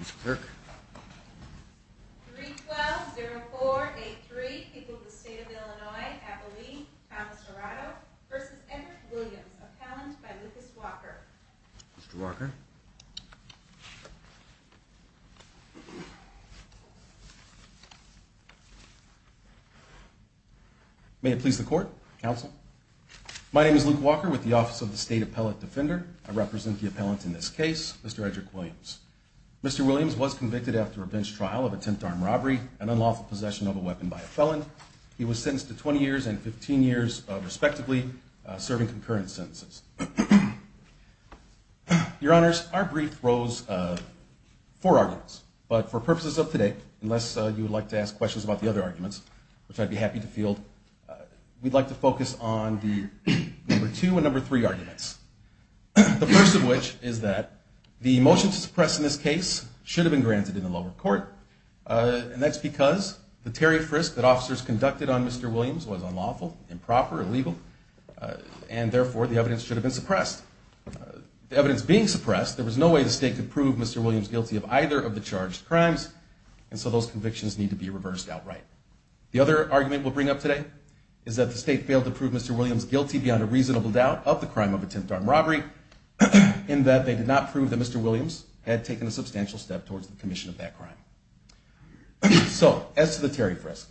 Mr. Clerk. 312-0483, people of the State of Illinois, Abilene, Thomas Dorado v. Edward Williams, appellant by Lucas Walker. Mr. Walker. May it please the Court, Counsel. My name is Luke Walker with the Office of the State Appellate Defender. I represent the appellant in this case, Mr. Edrick Williams. Mr. Williams was convicted after a bench trial of attempted armed robbery and unlawful possession of a weapon by a felon. He was sentenced to 20 years and 15 years, respectively, serving concurrent sentences. Your Honors, our brief rose of four arguments, but for purposes of today, unless you would like to ask questions about the other arguments, which I'd be happy to field, we'd like to focus on the number two and number three arguments. The first of which is that the motion to suppress in this case should have been granted in the lower court, and that's because the tariff risk that officers conducted on Mr. Williams was unlawful, improper, illegal, and therefore the evidence should have been suppressed. The evidence being suppressed, there was no way the State could prove Mr. Williams guilty of either of the charged crimes, and so those convictions need to be reversed outright. The other argument we'll bring up today is that the State failed to prove Mr. Williams guilty beyond a reasonable doubt of the crime of attempted armed robbery, in that they did not prove that Mr. Williams had taken a substantial step towards the commission of that crime. So, as to the tariff risk,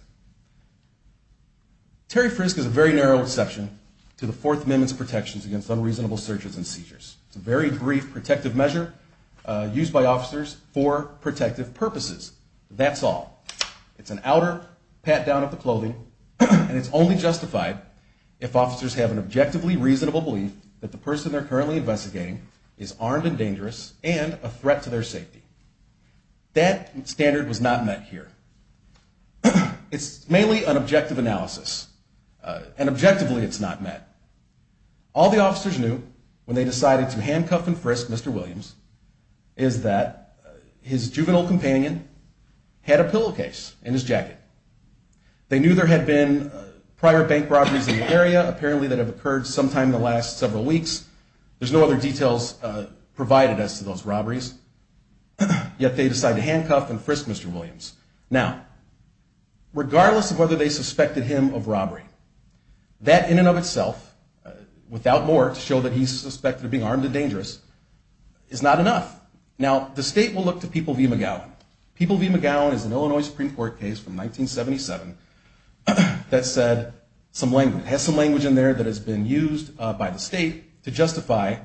tariff risk is a very narrow exception to the Fourth Amendment's protections against unreasonable searches and seizures. It's a very brief protective measure used by officers for protective purposes. That's all. It's an outer pat-down of the clothing, and it's only justified if officers have an objectively reasonable belief that the person they're currently investigating is armed and dangerous and a threat to their safety. That standard was not met here. It's mainly an objective analysis, and objectively it's not met. All the officers knew when they decided to handcuff and frisk Mr. Williams is that his juvenile companion had a pillowcase in his jacket. They knew there had been prior bank robberies in the area, apparently that have occurred sometime in the last several weeks. There's no other details provided as to those robberies, yet they decided to handcuff and frisk Mr. Williams. Now, regardless of whether they suspected him of robbery, that in and of itself, without more to show that he's suspected of being armed and dangerous, is not enough. Now, the state will look to People v. McGowan. People v. McGowan is an Illinois Supreme Court case from 1977 that said some language. It has some language in there that has been used by the state to justify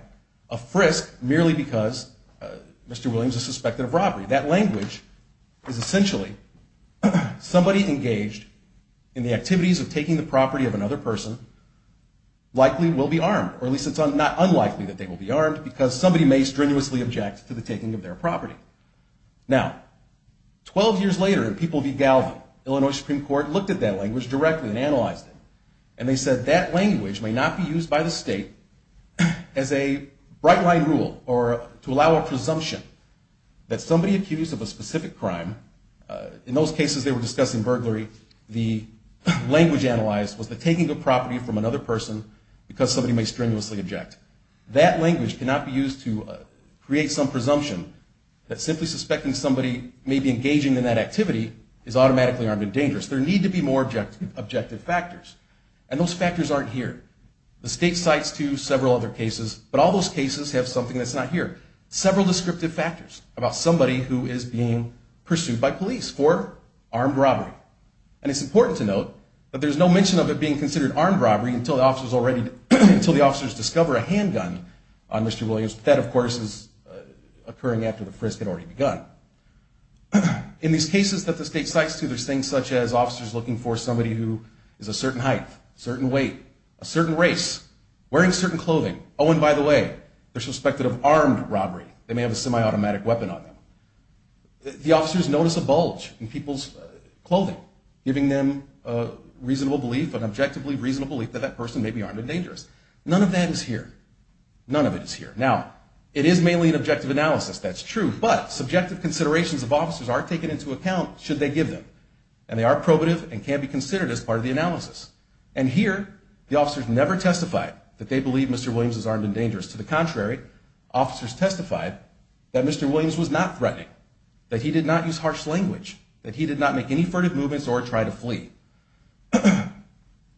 a frisk merely because Mr. Williams is suspected of robbery. That language is essentially somebody engaged in the activities of taking the property of another person likely will be armed, or at least it's unlikely that they will be armed because somebody may strenuously object to the taking of their property. Now, 12 years later in People v. Galvin, Illinois Supreme Court looked at that language directly and analyzed it, and they said that language may not be used by the state as a bright-line rule or to allow a presumption that somebody accused of a specific crime, in those cases they were discussing burglary, the language analyzed was the taking of property from another person because somebody may strenuously object. That language cannot be used to create some presumption that simply suspecting somebody may be engaging in that activity is automatically armed and dangerous. There need to be more objective factors, and those factors aren't here. The state cites to several other cases, but all those cases have something that's not here. Several descriptive factors about somebody who is being pursued by police for armed robbery. And it's important to note that there's no mention of it being considered armed robbery until the officers discover a handgun on Mr. Williams. That, of course, is occurring after the frisk had already begun. In these cases that the state cites to, there's things such as officers looking for somebody who is a certain height, certain weight, a certain race, wearing certain clothing, oh, and by the way, they're suspected of armed robbery. They may have a semi-automatic weapon on them. The officers notice a bulge in people's clothing, giving them a reasonable belief, an objectively reasonable belief that that person may be armed and dangerous. None of that is here. None of it is here. Now, it is mainly an objective analysis, that's true, but subjective considerations of officers are taken into account should they give them. And they are probative and can be considered as part of the analysis. And here, the officers never testified that they believe Mr. Williams is armed and dangerous. To the contrary, officers testified that Mr. Williams was not threatening, that he did not use harsh language, that he did not make any furtive movements or try to flee.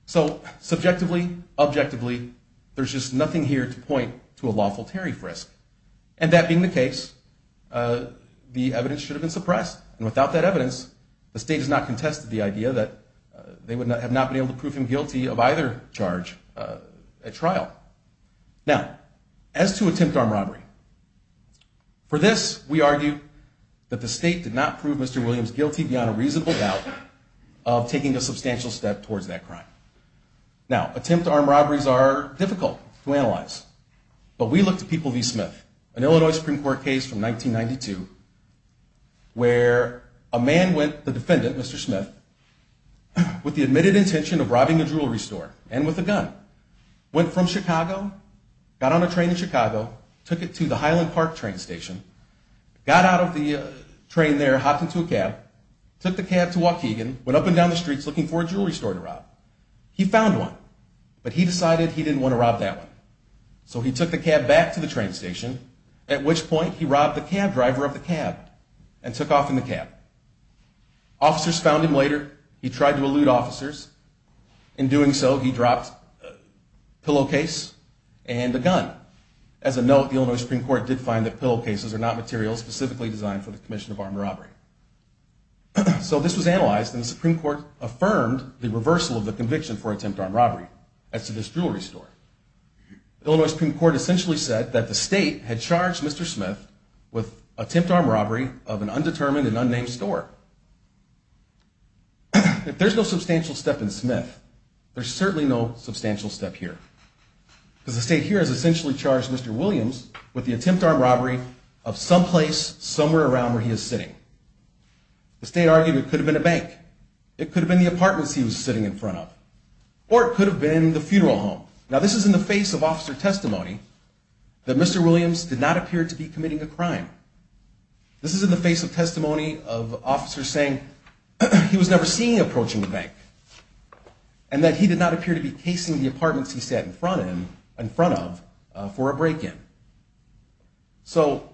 So subjectively, objectively, there's just nothing here to point to a lawful tariff risk. And that being the case, the evidence should have been suppressed. And without that evidence, the state has not contested the idea that they have not been able to prove him guilty of either charge at trial. Now, as to attempt armed robbery, for this, we argue that the state did not prove Mr. Williams guilty beyond a reasonable doubt of taking a substantial step towards that crime. Now, attempt armed robberies are difficult to analyze. But we looked at People v. Smith, an Illinois Supreme Court case from 1992, where a man went, the defendant, Mr. Smith, with the admitted intention of robbing a jewelry store and with a gun. Went from Chicago, got on a train in Chicago, took it to the Highland Park train station. Got out of the train there, hopped into a cab, took the cab to Waukegan, went up and down the streets looking for a jewelry store to rob. He found one, but he decided he didn't want to rob that one. So he took the cab back to the train station, at which point he robbed the cab driver of the cab and took off in the cab. Officers found him later. He tried to elude officers. In doing so, he dropped a pillowcase and a gun. As a note, the Illinois Supreme Court did find that pillowcases are not materials specifically designed for the commission of armed robbery. So this was analyzed, and the Supreme Court affirmed the reversal of the conviction for attempt armed robbery as to this jewelry store. The Illinois Supreme Court essentially said that the state had charged Mr. Smith with attempt armed robbery of an undetermined and unnamed store. If there's no substantial step in Smith, there's certainly no substantial step here. Because the state here has essentially charged Mr. Williams with the attempt armed robbery of someplace somewhere around where he is sitting. The state argued it could have been a bank. It could have been the apartments he was sitting in front of. Or it could have been the funeral home. Now, this is in the face of officer testimony that Mr. Williams did not appear to be committing a crime. This is in the face of testimony of officers saying he was never seeing approaching a bank. And that he did not appear to be casing the apartments he sat in front of for a break-in. So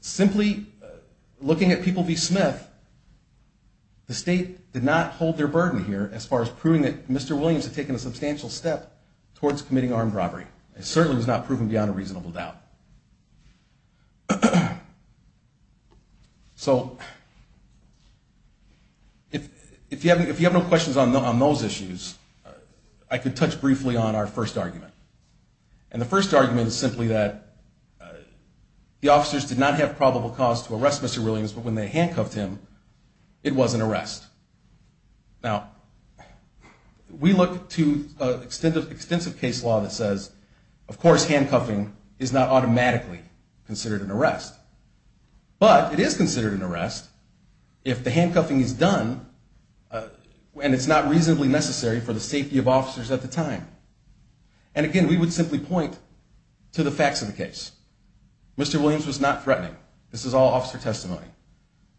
simply looking at people v. Smith, the state did not hold their burden here as far as proving that Mr. Williams had taken a substantial step towards committing armed robbery. It certainly was not proven beyond a reasonable doubt. So if you have no questions on those issues, I could touch briefly on our first argument. And the first argument is simply that the officers did not have probable cause to arrest Mr. Williams, but when they handcuffed him, it was an arrest. Now, we look to extensive case law that says, of course, handcuffing is not automatically considered an arrest. But it is considered an arrest if the handcuffing is done and it's not reasonably necessary for the safety of officers at the time. And again, we would simply point to the facts of the case. Mr. Williams was not threatening. This is all officer testimony.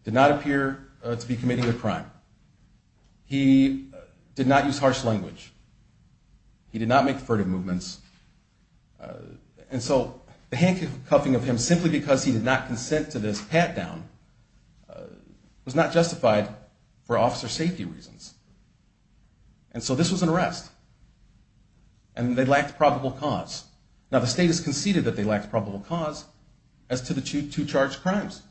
Did not appear to be committing a crime. He did not use harsh language. He did not make furtive movements. And so the handcuffing of him simply because he did not consent to this pat-down was not justified for officer safety reasons. And so this was an arrest. And they lacked probable cause. Now, the state has conceded that they lacked probable cause as to the two charged crimes.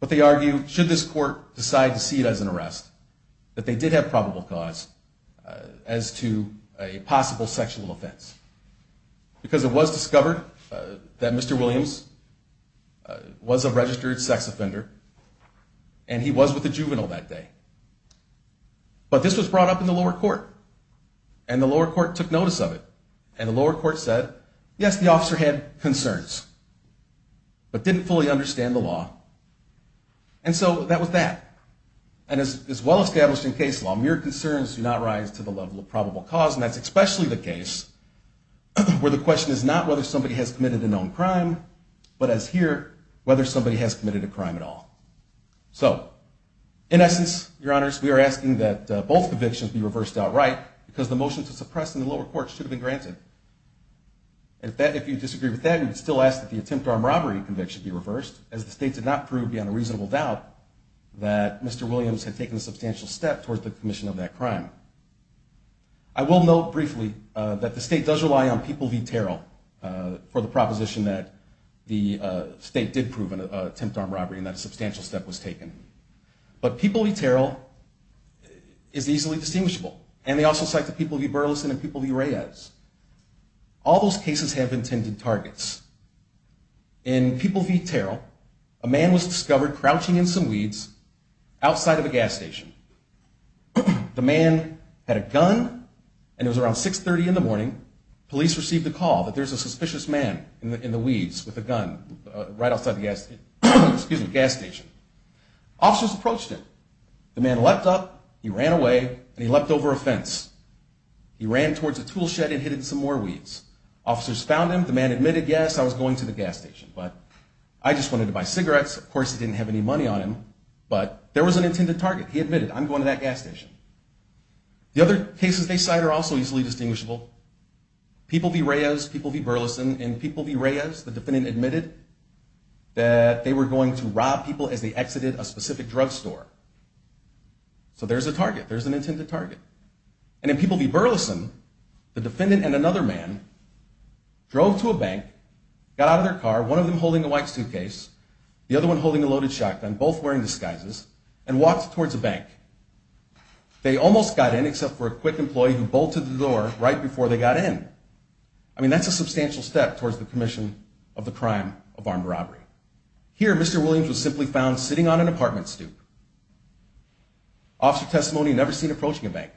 But they argue, should this court decide to see it as an arrest, that they did have probable cause as to a possible sexual offense. Because it was discovered that Mr. Williams was a registered sex offender, and he was with a juvenile that day. But this was brought up in the lower court. And the lower court took notice of it. And the lower court said, yes, the officer had concerns, but didn't fully understand the law. And so that was that. And as well-established in case law, mere concerns do not rise to the level of probable cause. And that's especially the case where the question is not whether somebody has committed a known crime, but as here, whether somebody has committed a crime at all. So in essence, your honors, we are asking that both convictions be reversed outright, because the motion to suppress in the lower court should have been granted. And if you disagree with that, you would still ask that the attempt armed robbery conviction be reversed, as the state did not prove beyond a reasonable doubt that Mr. Williams had taken a substantial step towards the commission of that crime. I will note briefly that the state does rely on people v. Terrell for the proposition that the state did prove an attempt armed robbery and that a substantial step was taken. But people v. Terrell is easily distinguishable. And they also cite the people v. Burleson and people v. Reyes. All those cases have intended targets. In people v. Terrell, a man was discovered crouching in some weeds outside of a gas station. The man had a gun, and it was around 6.30 in the morning. Police received a call that there's a suspicious man in the weeds with a gun right outside the gas station. Officers approached him. The man leapt up, he ran away, and he leapt over a fence. He ran towards a tool shed and hid in some more weeds. Officers found him. The man admitted, yes, I was going to the gas station, but I just wanted to buy cigarettes. Of course, he didn't have any money on him, but there was an intended target. He admitted, I'm going to that gas station. The other cases they cite are also easily distinguishable. People v. Reyes, people v. Burleson. In people v. Reyes, the defendant admitted that they were going to rob people as they exited a specific drugstore. So there's a target. There's an intended target. And in people v. Burleson, the defendant and another man drove to a bank, got out of their car, one of them holding a white suitcase, the other one holding a loaded shotgun, both wearing disguises, and walked towards a bank. They almost got in except for a quick employee who bolted the door right before they got in. I mean, that's a substantial step towards the commission of the crime of armed robbery. Here, Mr. Williams was simply found sitting on an apartment stoop. Officer testimony never seen approaching a bank.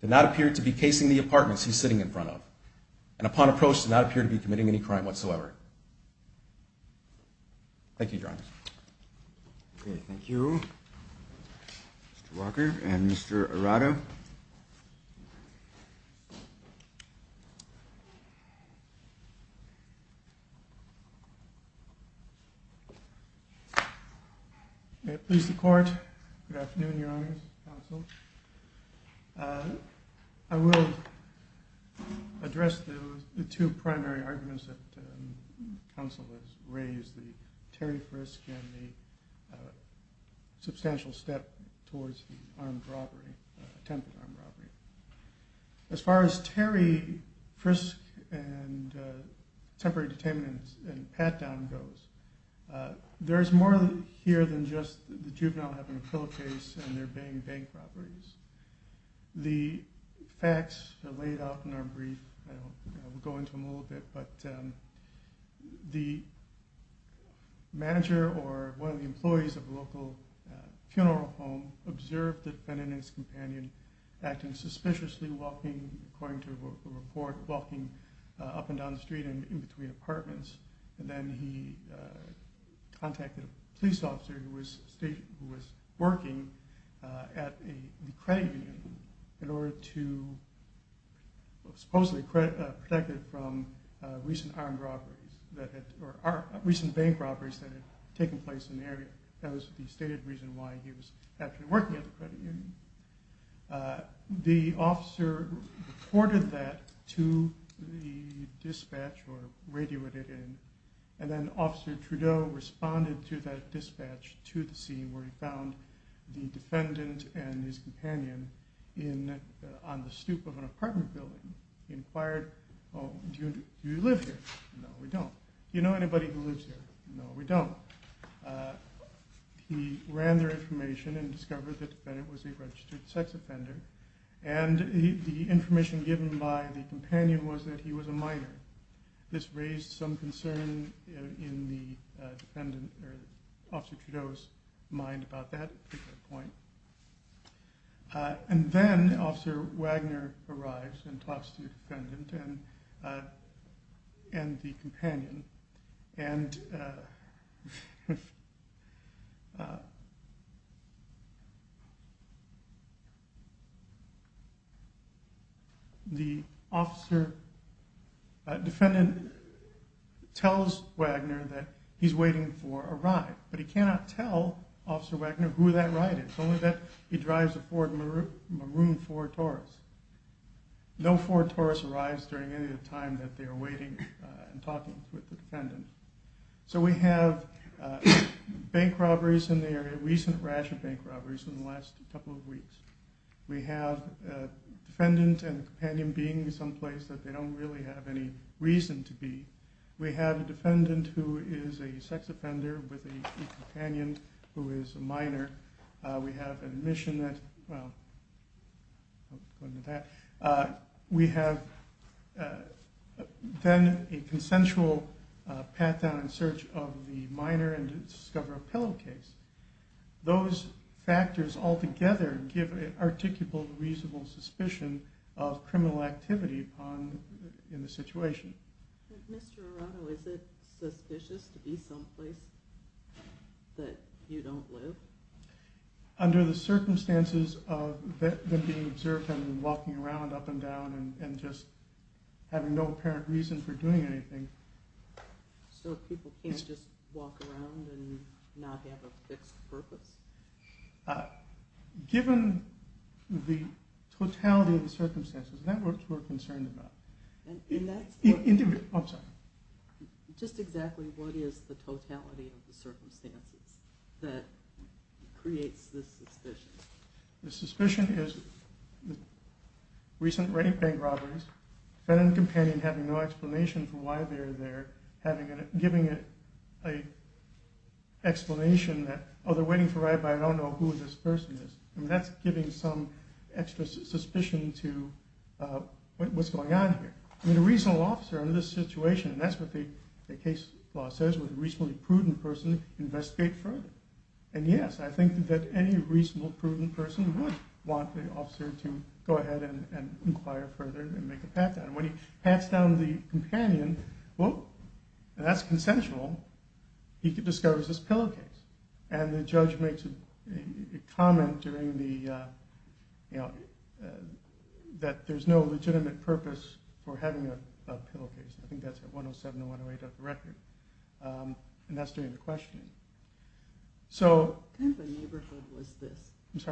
Did not appear to be casing the apartments he's sitting in front of. And upon approach, did not appear to be committing any crime whatsoever. Thank you, Your Honor. Okay, thank you. Mr. Walker and Mr. Arado. Please, the Court. Good afternoon, Your Honors, Counsel. I will address the two primary arguments that counsel has raised, the Terry Frisk and the substantial step towards the attempted armed robbery. As far as Terry Frisk and temporary detainment and pat-down goes, there is more here than just the juvenile having a pillowcase and their being bank robberies. The facts laid out in our brief, we'll go into them a little bit, but the manager or one of the employees of a local funeral home observed the defendant and his companion acting suspiciously, walking, according to a report, walking up and down the street and in between apartments. And then he contacted a police officer who was working at the credit union in order to supposedly protect him from recent bank robberies that had taken place in the area. That was the stated reason why he was actually working at the credit union. The officer reported that to the dispatch or radioed it in, and then Officer Trudeau responded to that dispatch to the scene where he found the defendant and his companion on the stoop of an apartment building. He inquired, do you live here? No, we don't. Do you know anybody who lives here? No, we don't. He ran their information and discovered that the defendant was a registered sex offender and the information given by the companion was that he was a minor. This raised some concern in the defendant or Officer Trudeau's mind about that particular point. And then Officer Wagner arrives and talks to the defendant and the companion and the defendant tells Wagner that he's waiting for a ride, but he cannot tell Officer Wagner who that ride is, only that he drives a Ford Maroon Ford Taurus. No Ford Taurus arrives during any of the time that they are waiting and talking with the defendant. So we have bank robberies in the area, recent rash of bank robberies in the last couple of weeks. We have a defendant and companion being in some place that they don't really have any reason to be. We have a defendant who is a sex offender with a companion who is a minor. We have a consensual pat-down and search of the minor and discover a pillow case. Those factors altogether give an articulable reasonable suspicion of criminal activity in the situation. Mr. Arado, is it suspicious to be some place that you don't live? Under the circumstances of them being observed and walking around up and down and just having no apparent reason for doing anything. So people can't just walk around and not have a fixed purpose? Given the totality of the circumstances, that's what we're concerned about. I'm sorry. Just exactly what is the totality of the circumstances that creates this suspicion? The suspicion is recent bank robberies, defendant and companion having no explanation for why they are there, giving an explanation that, oh they're waiting for Rabbi, I don't know who this person is. That's giving some extra suspicion to what's going on here. A reasonable officer in this situation, and that's what the case law says, would a reasonably prudent person investigate further. And yes, I think that any reasonably prudent person would want the officer to go ahead and inquire further and make a pat-down. When he pats down the companion, that's consensual, he discovers this pillow case. And the judge makes a comment that there's no legitimate purpose for having a pillow case. I think that's at 107 and 108 on the record. And that's during the questioning. What kind of a neighborhood was this? It's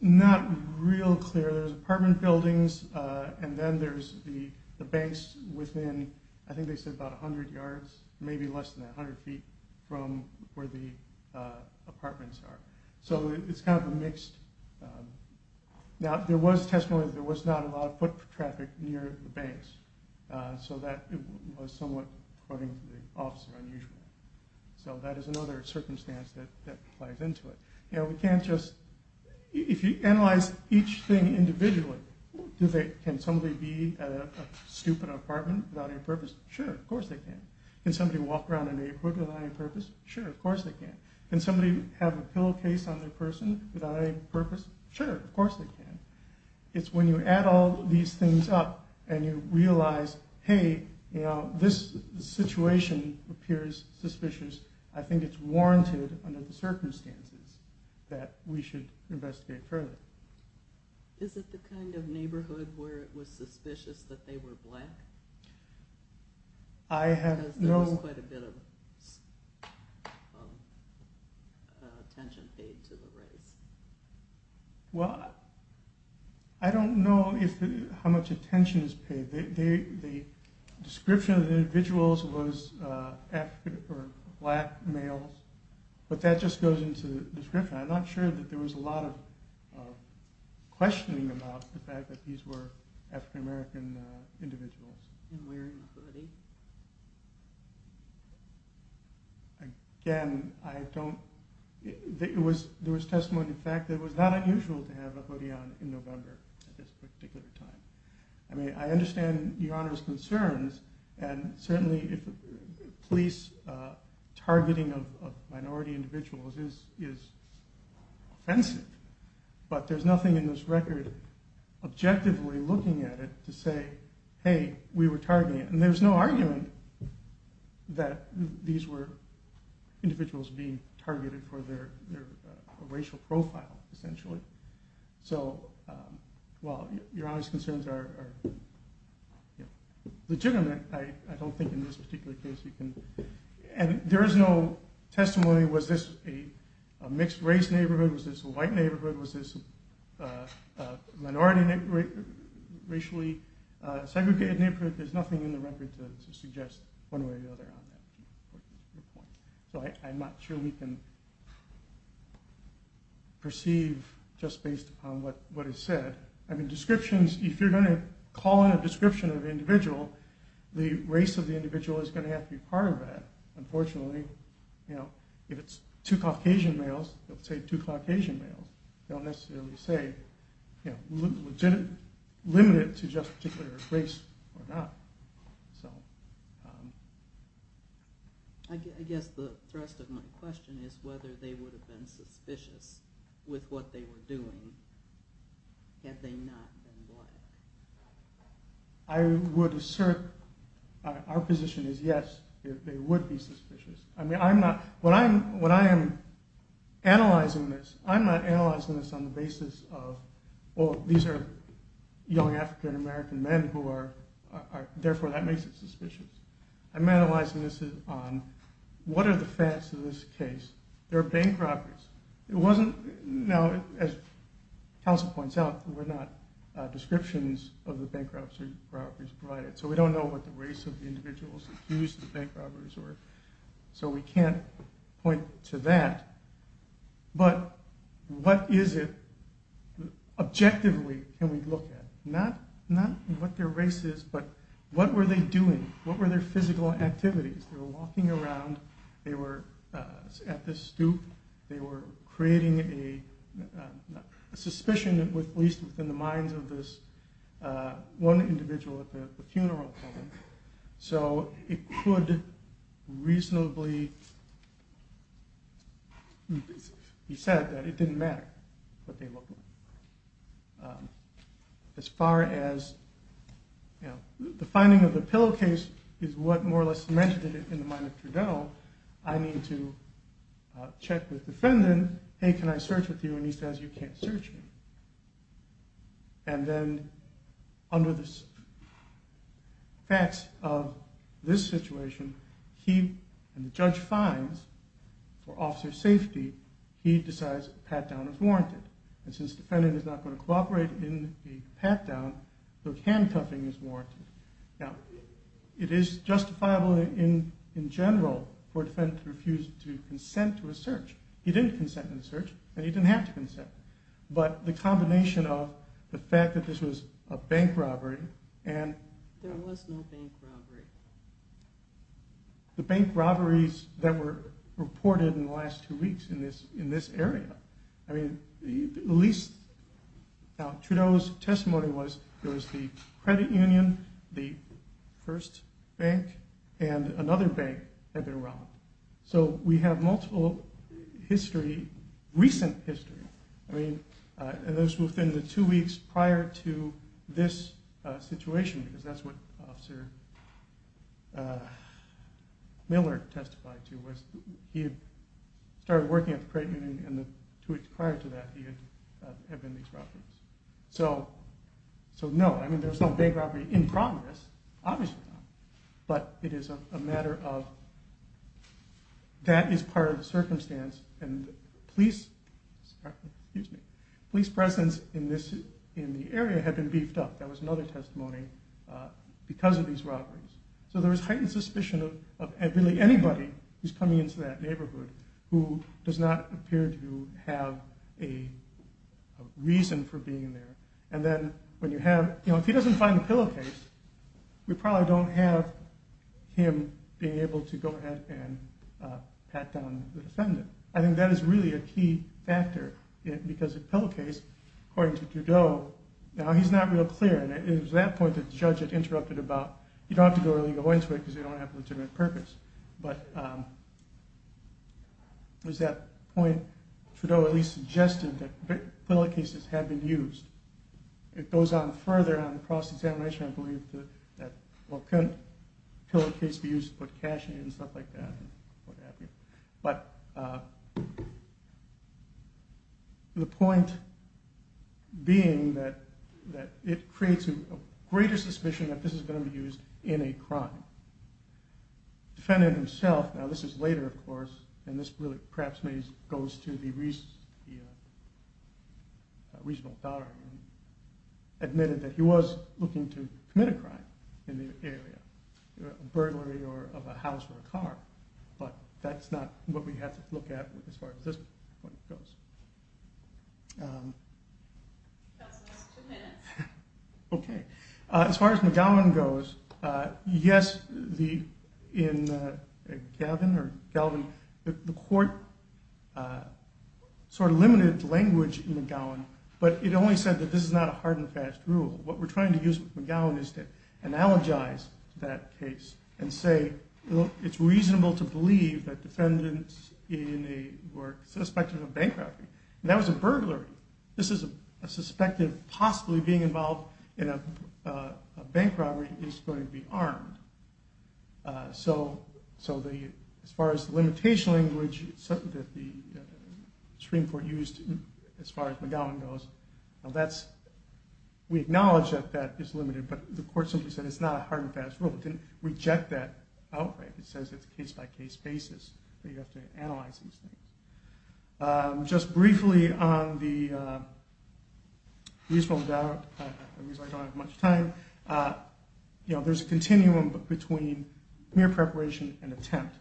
not real clear. So there's apartment buildings, and then there's the banks within, I think they said about 100 yards, maybe less than 100 feet from where the apartments are. So it's kind of a mixed... Now there was testimony that there was not a lot of foot traffic near the banks, so that was somewhat, according to the officer, unusual. So that is another circumstance that plays into it. We can't just... If you analyze each thing individually, can somebody be at a stupid apartment without any purpose? Sure, of course they can. Can somebody walk around a neighborhood without any purpose? Sure, of course they can. Can somebody have a pillow case on their person without any purpose? Sure, of course they can. It's when you add all these things up and you realize, hey, this situation appears suspicious. I think it's warranted under the circumstances that we should investigate further. Is it the kind of neighborhood where it was suspicious that they were black? Because there was quite a bit of attention paid to the race. Well, I don't know how much attention is paid. The description of the individuals was African or black males, but that just goes into the description. I'm not sure that there was a lot of questioning about the fact that these were African American individuals. And wearing a hoodie? Again, I don't... There was testimony of the fact that it was not unusual to have a hoodie on in November at this particular time. I mean, I understand Your Honor's concerns, and certainly police targeting of minority individuals is offensive, but there's nothing in this record objectively looking at it to say, hey, we were targeting it. And there's no argument that these were individuals being targeted for their racial profile, essentially. So while Your Honor's concerns are legitimate, I don't think in this particular case you can... And there is no testimony, was this a mixed race neighborhood? Was this a white neighborhood? Was this a minority racially segregated neighborhood? There's nothing in the record to suggest one way or the other on that. So I'm not sure we can perceive just based upon what is said. I mean, descriptions, if you're going to call in a description of an individual, the race of the individual is going to have to be part of that. Unfortunately, you know, if it's two Caucasian males, they'll say two Caucasian males. They don't necessarily say, you know, legitimate, limited to just a particular race or not. So... I guess the thrust of my question is whether they would have been suspicious with what they were doing had they not been black. I would assert our position is yes, they would be suspicious. I mean, I'm not... When I am analyzing this, I'm not analyzing this on the basis of, well, these are young African-American men who are... Therefore, that makes it suspicious. I'm analyzing this on what are the facts of this case? They're bank robberies. It wasn't... Now, as counsel points out, there were not descriptions of the bank robberies provided. So we don't know what the race of the individuals accused of bank robberies were. So we can't point to that. But what is it objectively can we look at? Not what their race is, but what were they doing? What were their physical activities? They were walking around. They were at this stoop. They were creating a suspicion, at least within the minds of this one individual at the funeral. So it could reasonably be said that it didn't matter what they looked like. As far as the finding of the pillowcase is what more or less cemented it in the mind of Trudell, I need to check with defendant, hey, can I search with you? And he says, you can't search me. And then under the facts of this situation, he and the judge finds for officer safety, he decides a pat-down is warranted. And since the defendant is not going to cooperate in a pat-down, the handcuffing is warranted. Now, it is justifiable in general for a defendant to refuse to consent to a search. He didn't consent to the search, and he didn't have to consent. But the combination of the fact that this was a bank robbery and... There was no bank robbery. The bank robberies that were reported in the last two weeks in this area. I mean, at least Trudell's testimony was there was the credit union, the first bank, and another bank that they robbed. So we have multiple history, recent history. I mean, those within the two weeks prior to this situation, because that's what officer Miller testified to, was he had started working at the credit union, and the two weeks prior to that he had been in these robberies. So no, I mean, there was no bank robbery in progress, obviously not. But it is a matter of that is part of the circumstance, and police presence in the area had been beefed up. That was another testimony because of these robberies. So there was heightened suspicion of really anybody who's coming into that neighborhood who does not appear to have a reason for being there. And then when you have, you know, if he doesn't find the pillowcase, we probably don't have him being able to go ahead and pat down the defendant. I think that is really a key factor because the pillowcase, according to Trudell, now he's not real clear, and it was at that point that the judge had interrupted about you don't have to go into it because you don't have a legitimate purpose. But it was at that point Trudell at least suggested that pillowcases had been used. It goes on further on the cross-examination, I believe, that pillowcase be used to put cash in and stuff like that. But the point being that it creates a greater suspicion that this is going to be used in a crime. Defendant himself, now this is later, of course, and this really perhaps goes to the reasonable doubt, admitted that he was looking to commit a crime in the area, a burglary of a house or a car. But that's not what we have to look at as far as this point goes. That's the last two minutes. Okay. As far as McGowan goes, yes, in Galvin, the court sort of limited language in McGowan, but it only said that this is not a hard and fast rule. What we're trying to use with McGowan is to analogize that case and say it's reasonable to believe that defendants were suspected of bankruptcy. And that was a burglary. This is a suspected possibly being involved in a bank robbery is going to be armed. So as far as the limitation language that the Supreme Court used, as far as McGowan goes, we acknowledge that that is limited, but the court simply said it's not a hard and fast rule. It didn't reject that outright. It says it's a case-by-case basis that you have to analyze these things. Just briefly on the reasonable doubt, that means I don't have much time, there's a continuum between mere preparation and attempt.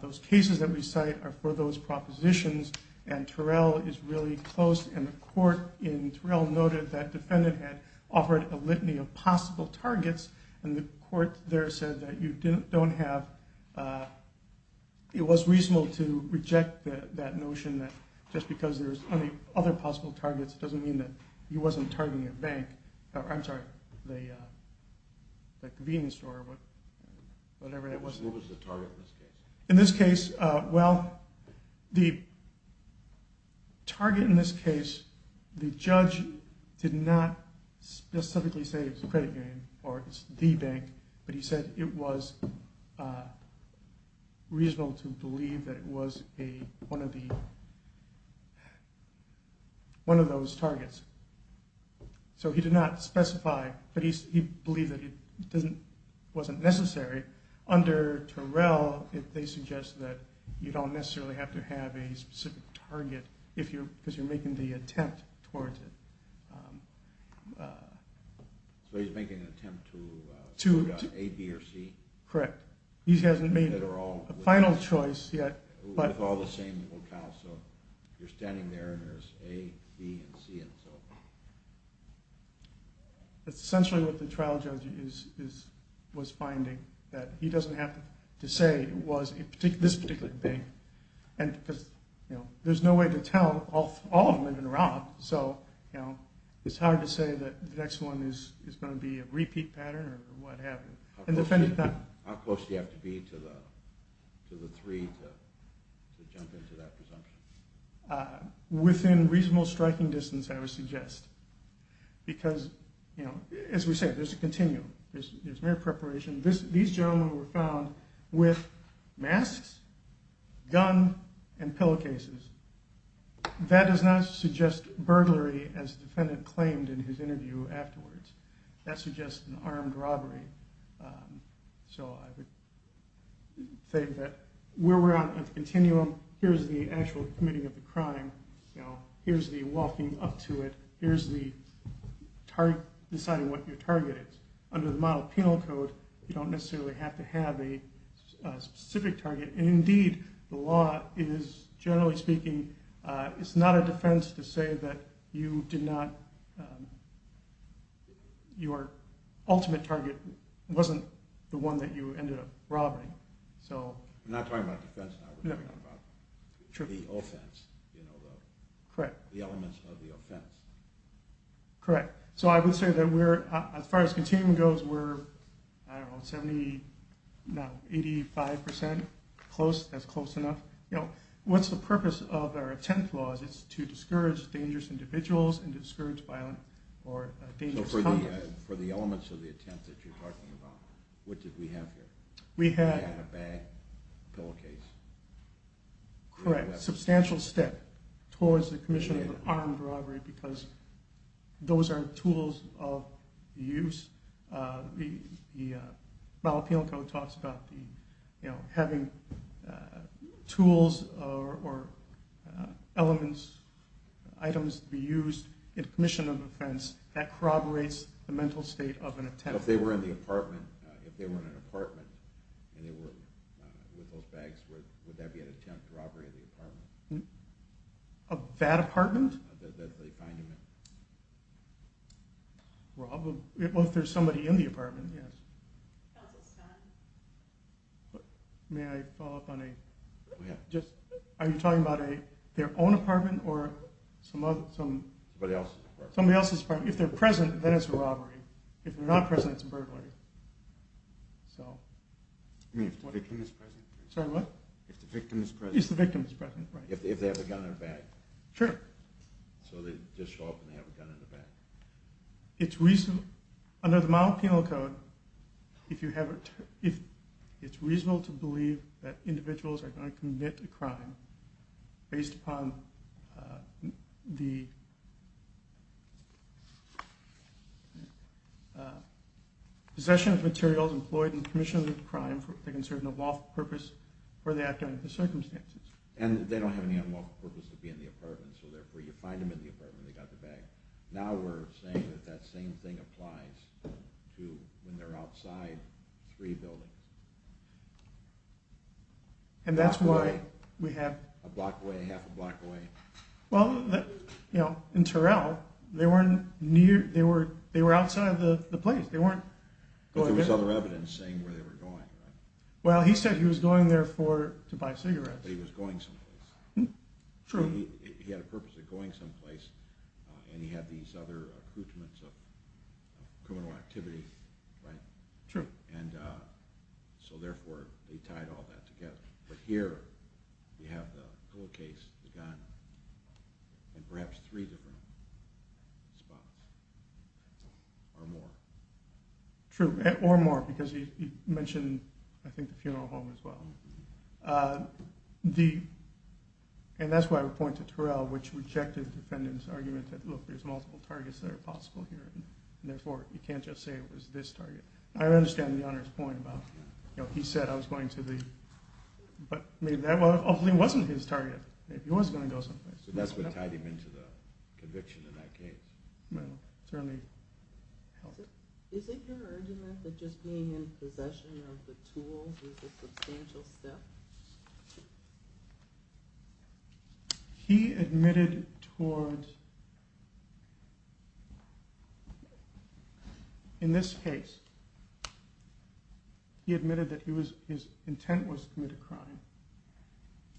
Those cases that we cite are for those propositions, and Terrell is really close. And the court in Terrell noted that defendant had offered a litany of possible targets, and the court there said that you don't have – it was reasonable to reject that notion that just because there's other possible targets doesn't mean that he wasn't targeting a bank. I'm sorry, the convenience store or whatever that was. What was the target in this case? In this case, well, the target in this case, the judge did not specifically say it was a credit union or it's the bank, but he said it was reasonable to believe that it was one of those targets. So he did not specify, but he believed that it wasn't necessary. Under Terrell, they suggest that you don't necessarily have to have a specific target because you're making the attempt towards it. So he's making an attempt to A, B, or C? Correct. He hasn't made a final choice yet. With all the same locale, so you're standing there and there's A, B, and C and so forth. That's essentially what the trial judge was finding, that he doesn't have to say it was this particular bank. There's no way to tell all of them in a row, so it's hard to say that the next one is going to be a repeat pattern or what have you. How close do you have to be to the three to jump into that presumption? Within reasonable striking distance, I would suggest. Because, as we said, there's a continuum. There's mere preparation. These gentlemen were found with masks, gun, and pillowcases. That does not suggest burglary, as the defendant claimed in his interview afterwards. That suggests an armed robbery. So I would say that we're on a continuum. Here's the actual committing of the crime. Here's the walking up to it. Here's the deciding what your target is. Under the model penal code, you don't necessarily have to have a specific target. Indeed, the law is, generally speaking, it's not a defense to say that your ultimate target wasn't the one that you ended up robbing. We're not talking about defense now. We're talking about the offense, the elements of the offense. Correct. So I would say that, as far as continuum goes, we're, I don't know, 70, no, 85% close. That's close enough. What's the purpose of our attempt clause? It's to discourage dangerous individuals and to discourage violent or dangerous conduct. So for the elements of the attempt that you're talking about, what did we have here? We had a bag, pillowcase. Correct. That's a substantial step towards the commission of an armed robbery because those are tools of use. The model penal code talks about having tools or elements, items to be used in a commission of offense that corroborates the mental state of an attempt. If they were in the apartment, if they were in an apartment and they were with those bags, would that be an attempt to robbery of the apartment? Of that apartment? That they find them in. Well, if there's somebody in the apartment, yes. May I follow up on a, are you talking about their own apartment or somebody else's apartment? Somebody else's apartment. If they're present, then it's a robbery. If they're not present, it's a burglary. You mean if the victim is present? Sorry, what? If the victim is present. If the victim is present, right. If they have a gun in their bag. Sure. Under the model penal code, it's reasonable to believe that individuals are going to commit a crime based upon the possession of materials employed in the commission of the crime for the concerned unlawful purpose or the act of the circumstances. And they don't have any unlawful purpose to be in the apartment, so therefore you find them in the apartment, they got the bag. Now we're saying that that same thing applies to when they're outside three buildings. And that's why we have... A block away, half a block away. Well, you know, in Terrell, they weren't near, they were outside of the place. They weren't going in. But there was other evidence saying where they were going, right? Well, he said he was going there to buy cigarettes. But he was going someplace. True. He had a purpose of going someplace, and he had these other accoutrements of criminal activity, right? True. And so therefore, they tied all that together. But here, you have the pillowcase, the gun, and perhaps three different spots. Or more. True. Or more, because he mentioned, I think, the funeral home as well. The... And that's why I would point to Terrell, which rejected the defendant's argument that, look, there's multiple targets that are possible here, and therefore you can't just say it was this target. I understand the Honor's point about, you know, he said I was going to the... But maybe that wasn't his target. Maybe he was going to go someplace. So that's what tied him into the conviction in that case. Well, it certainly helped. Is it your argument that just being in possession of the tools is a substantial step? He admitted towards... In this case, he admitted that his intent was to commit a crime.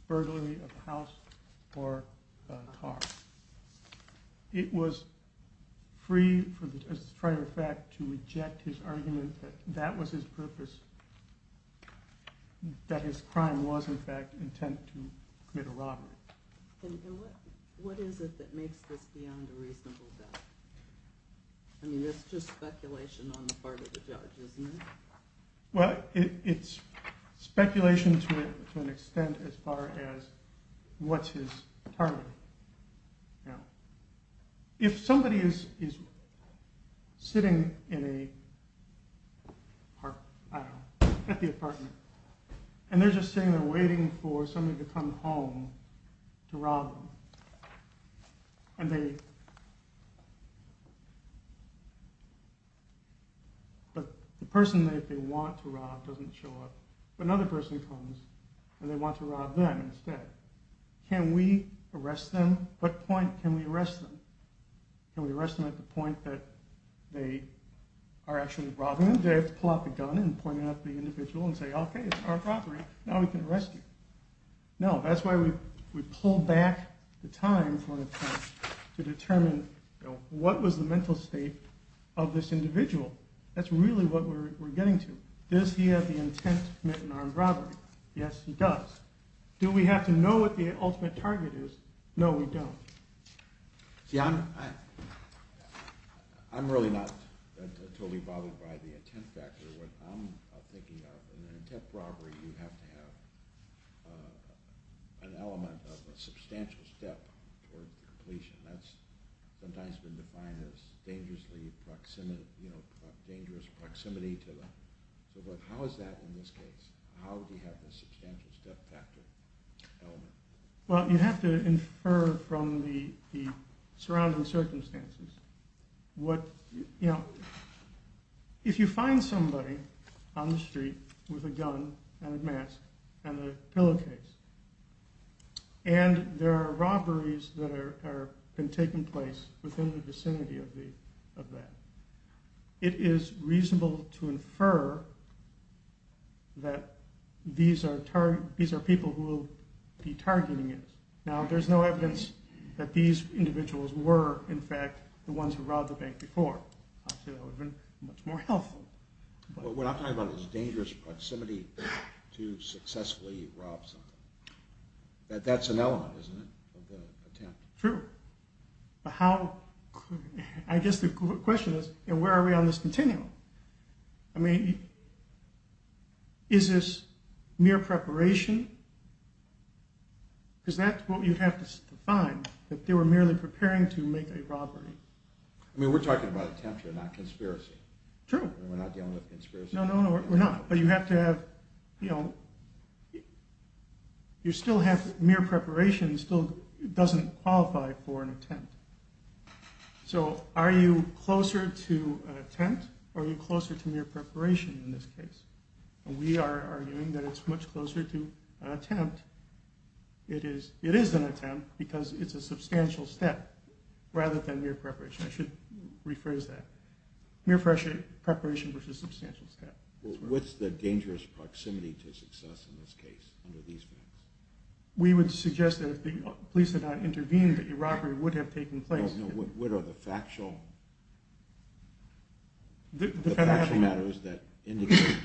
Burglary of a house or a car. It was free, as a matter of fact, to reject his argument that that was his purpose. That his crime was, in fact, intent to commit a robbery. And what is it that makes this beyond a reasonable doubt? I mean, that's just speculation on the part of the judge, isn't it? Well, it's speculation to an extent as far as what's his target. If somebody is sitting in a park, I don't know, at the apartment, and they're just sitting there waiting for somebody to come home to rob them, and they... But the person that they want to rob doesn't show up. But another person comes, and they want to rob them instead. Can we arrest them? At what point can we arrest them? Can we arrest them at the point that they are actually robbing them? Do they have to pull out the gun and point it at the individual and say, Okay, it's our property. Now we can arrest you. No, that's why we pull back the time to determine what was the mental state of this individual. That's really what we're getting to. Does he have the intent to commit an armed robbery? Yes, he does. Do we have to know what the ultimate target is? No, we don't. See, I'm really not totally bothered by the intent factor. What I'm thinking of, in an intent robbery, you have to have an element of a substantial step toward completion. That's sometimes been defined as dangerous proximity to them. So how is that in this case? How do you have the substantial step factor element? Well, you have to infer from the surrounding circumstances. If you find somebody on the street with a gun and a mask and a pillowcase, and there are robberies that have been taking place within the vicinity of that, it is reasonable to infer that these are people who will be targeting it. Now, there's no evidence that these individuals were, in fact, the ones who robbed the bank before. Obviously, that would have been much more helpful. What I'm talking about is dangerous proximity to successfully rob something. That's an element, isn't it, of the attempt? True. I guess the question is, where are we on this continuum? I mean, is this mere preparation? Because that's what you have to find, that they were merely preparing to make a robbery. I mean, we're talking about attempt here, not conspiracy. True. We're not dealing with conspiracy. No, no, no, we're not. But you have to have, you know, you still have mere preparation still doesn't qualify for an attempt. So are you closer to attempt or are you closer to mere preparation in this case? We are arguing that it's much closer to an attempt. It is an attempt because it's a substantial step rather than mere preparation. I should rephrase that. Mere preparation versus substantial step. Well, what's the dangerous proximity to success in this case under these means? We would suggest that if the police had not intervened, the robbery would have taken place. I don't know, what are the factual matters that indicate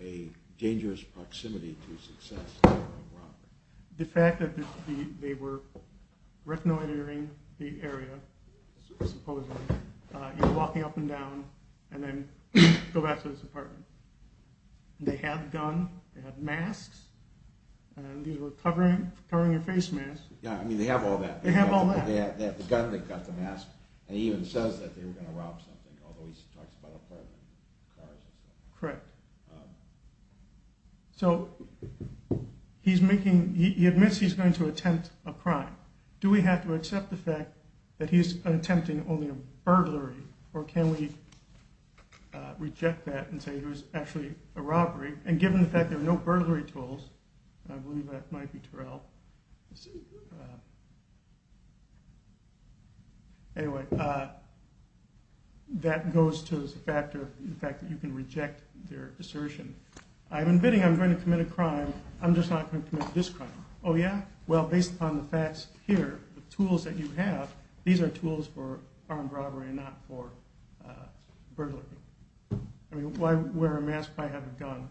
a dangerous proximity to success in a robbery? The fact that they were retinal entering the area, supposedly, you know, walking up and down, and then go back to this apartment. They have a gun, they have masks, and these were covering your face masks. Yeah, I mean, they have all that. They have all that. They have the gun, they've got the mask, and he even says that they were going to rob something, although he talks about apartment, cars and stuff. Correct. So he's making, he admits he's going to attempt a crime. Do we have to accept the fact that he's attempting only a burglary, or can we reject that and say it was actually a robbery? And given the fact there are no burglary tools, I believe that might be Terrell. Anyway, that goes to the fact that you can reject their assertion. I'm admitting I'm going to commit a crime. I'm just not going to commit this crime. Oh, yeah? Well, based upon the facts here, the tools that you have, these are tools for armed robbery and not for burglary. I mean, why wear a mask if I have a gun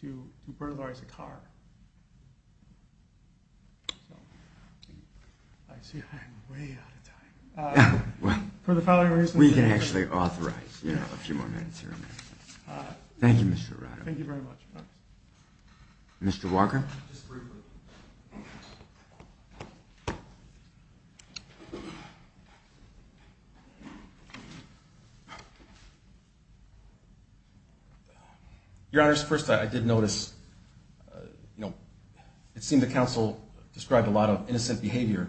to burglarize a car? I see I'm way out of time. Well, we can actually authorize a few more minutes here. Thank you, Mr. Arado. Thank you very much. Mr. Walker? Just briefly. Your Honors, first I did notice, you know, it seemed the counsel described a lot of innocent behavior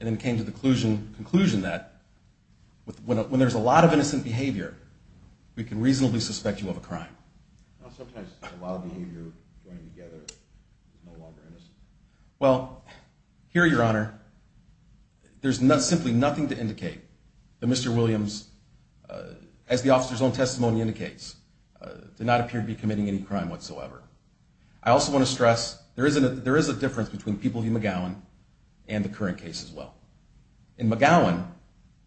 and then came to the conclusion that when there's a lot of innocent behavior, we can reasonably suspect you of a crime. Well, sometimes a lot of behavior joined together is no longer innocent. Well, here, Your Honor, there's simply nothing to indicate that Mr. Williams, as the officer's own testimony indicates, did not appear to be committing any crime whatsoever. I also want to stress there is a difference between People v. McGowan and the current case as well. In McGowan,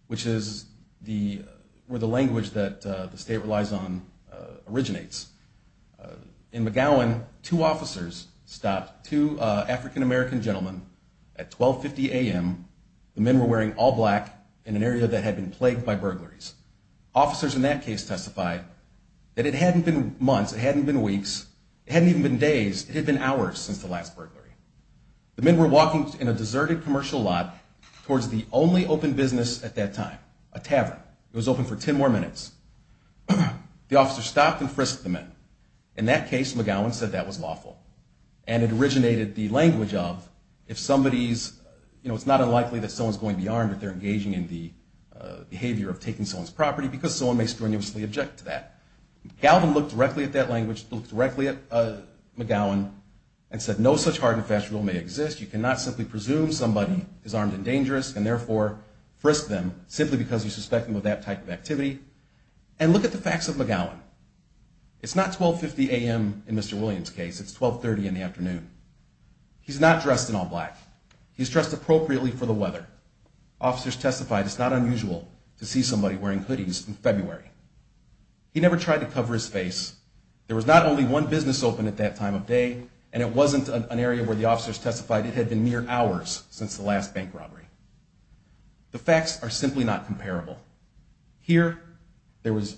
which is where the language that the state relies on originates, in McGowan two officers stopped two African-American gentlemen at 12.50 a.m. The men were wearing all black in an area that had been plagued by burglaries. Officers in that case testified that it hadn't been months, it hadn't been weeks, it hadn't even been days, it had been hours since the last burglary. The men were walking in a deserted commercial lot towards the only open business at that time, a tavern. It was open for 10 more minutes. The officer stopped and frisked the men. In that case, McGowan said that was lawful. And it originated the language of if somebody's, you know, it's not unlikely that someone's going to be armed if they're engaging in the behavior of taking someone's property because someone may strenuously object to that. Galvin looked directly at that language, looked directly at McGowan, and said no such hard and fast rule may exist. You cannot simply presume somebody is armed and dangerous and therefore frisk them simply because you suspect them of that type of activity. And look at the facts of McGowan. It's not 12.50 a.m. in Mr. Williams' case. It's 12.30 in the afternoon. He's not dressed in all black. He's dressed appropriately for the weather. Officers testified it's not unusual to see somebody wearing hoodies in February. He never tried to cover his face. There was not only one business open at that time of day, and it wasn't an area where the officers testified it had been mere hours since the last bank robbery. The facts are simply not comparable. Here there was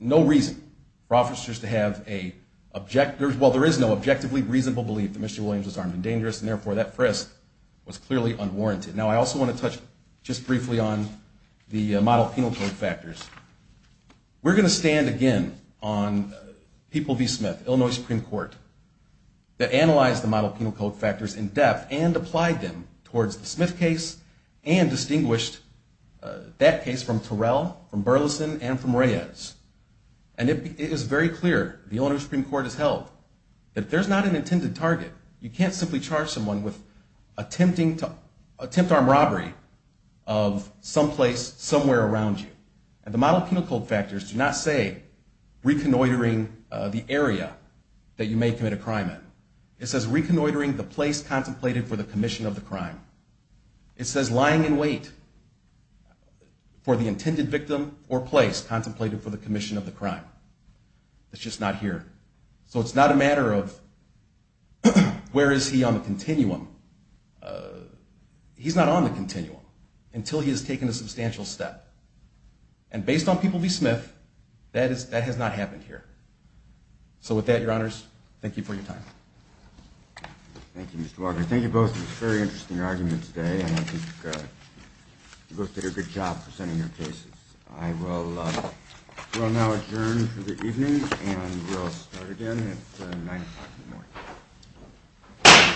no reason for officers to have a, well, there is no objectively reasonable belief that Mr. Williams was armed and dangerous, and therefore that frisk was clearly unwarranted. Now I also want to touch just briefly on the model penal code factors. We're going to stand again on People v. Smith, Illinois Supreme Court, that analyzed the model penal code factors in depth and applied them towards the Smith case and distinguished that case from Terrell, from Burleson, and from Reyes. And it is very clear, the Illinois Supreme Court has held, that there's not an intended target. You can't simply charge someone with attempt armed robbery of someplace somewhere around you. And the model penal code factors do not say reconnoitering the area that you may commit a crime in. It says reconnoitering the place contemplated for the commission of the crime. It says lying in wait for the intended victim or place contemplated for the commission of the crime. It's just not here. So it's not a matter of where is he on the continuum. He's not on the continuum until he has taken a substantial step. And based on People v. Smith, that has not happened here. So with that, your honors, thank you for your time. Thank you, Mr. Walker. Thank you both for this very interesting argument today, and I think you both did a good job presenting your cases. I will now adjourn for the evening, and we'll start again at 9 o'clock in the morning.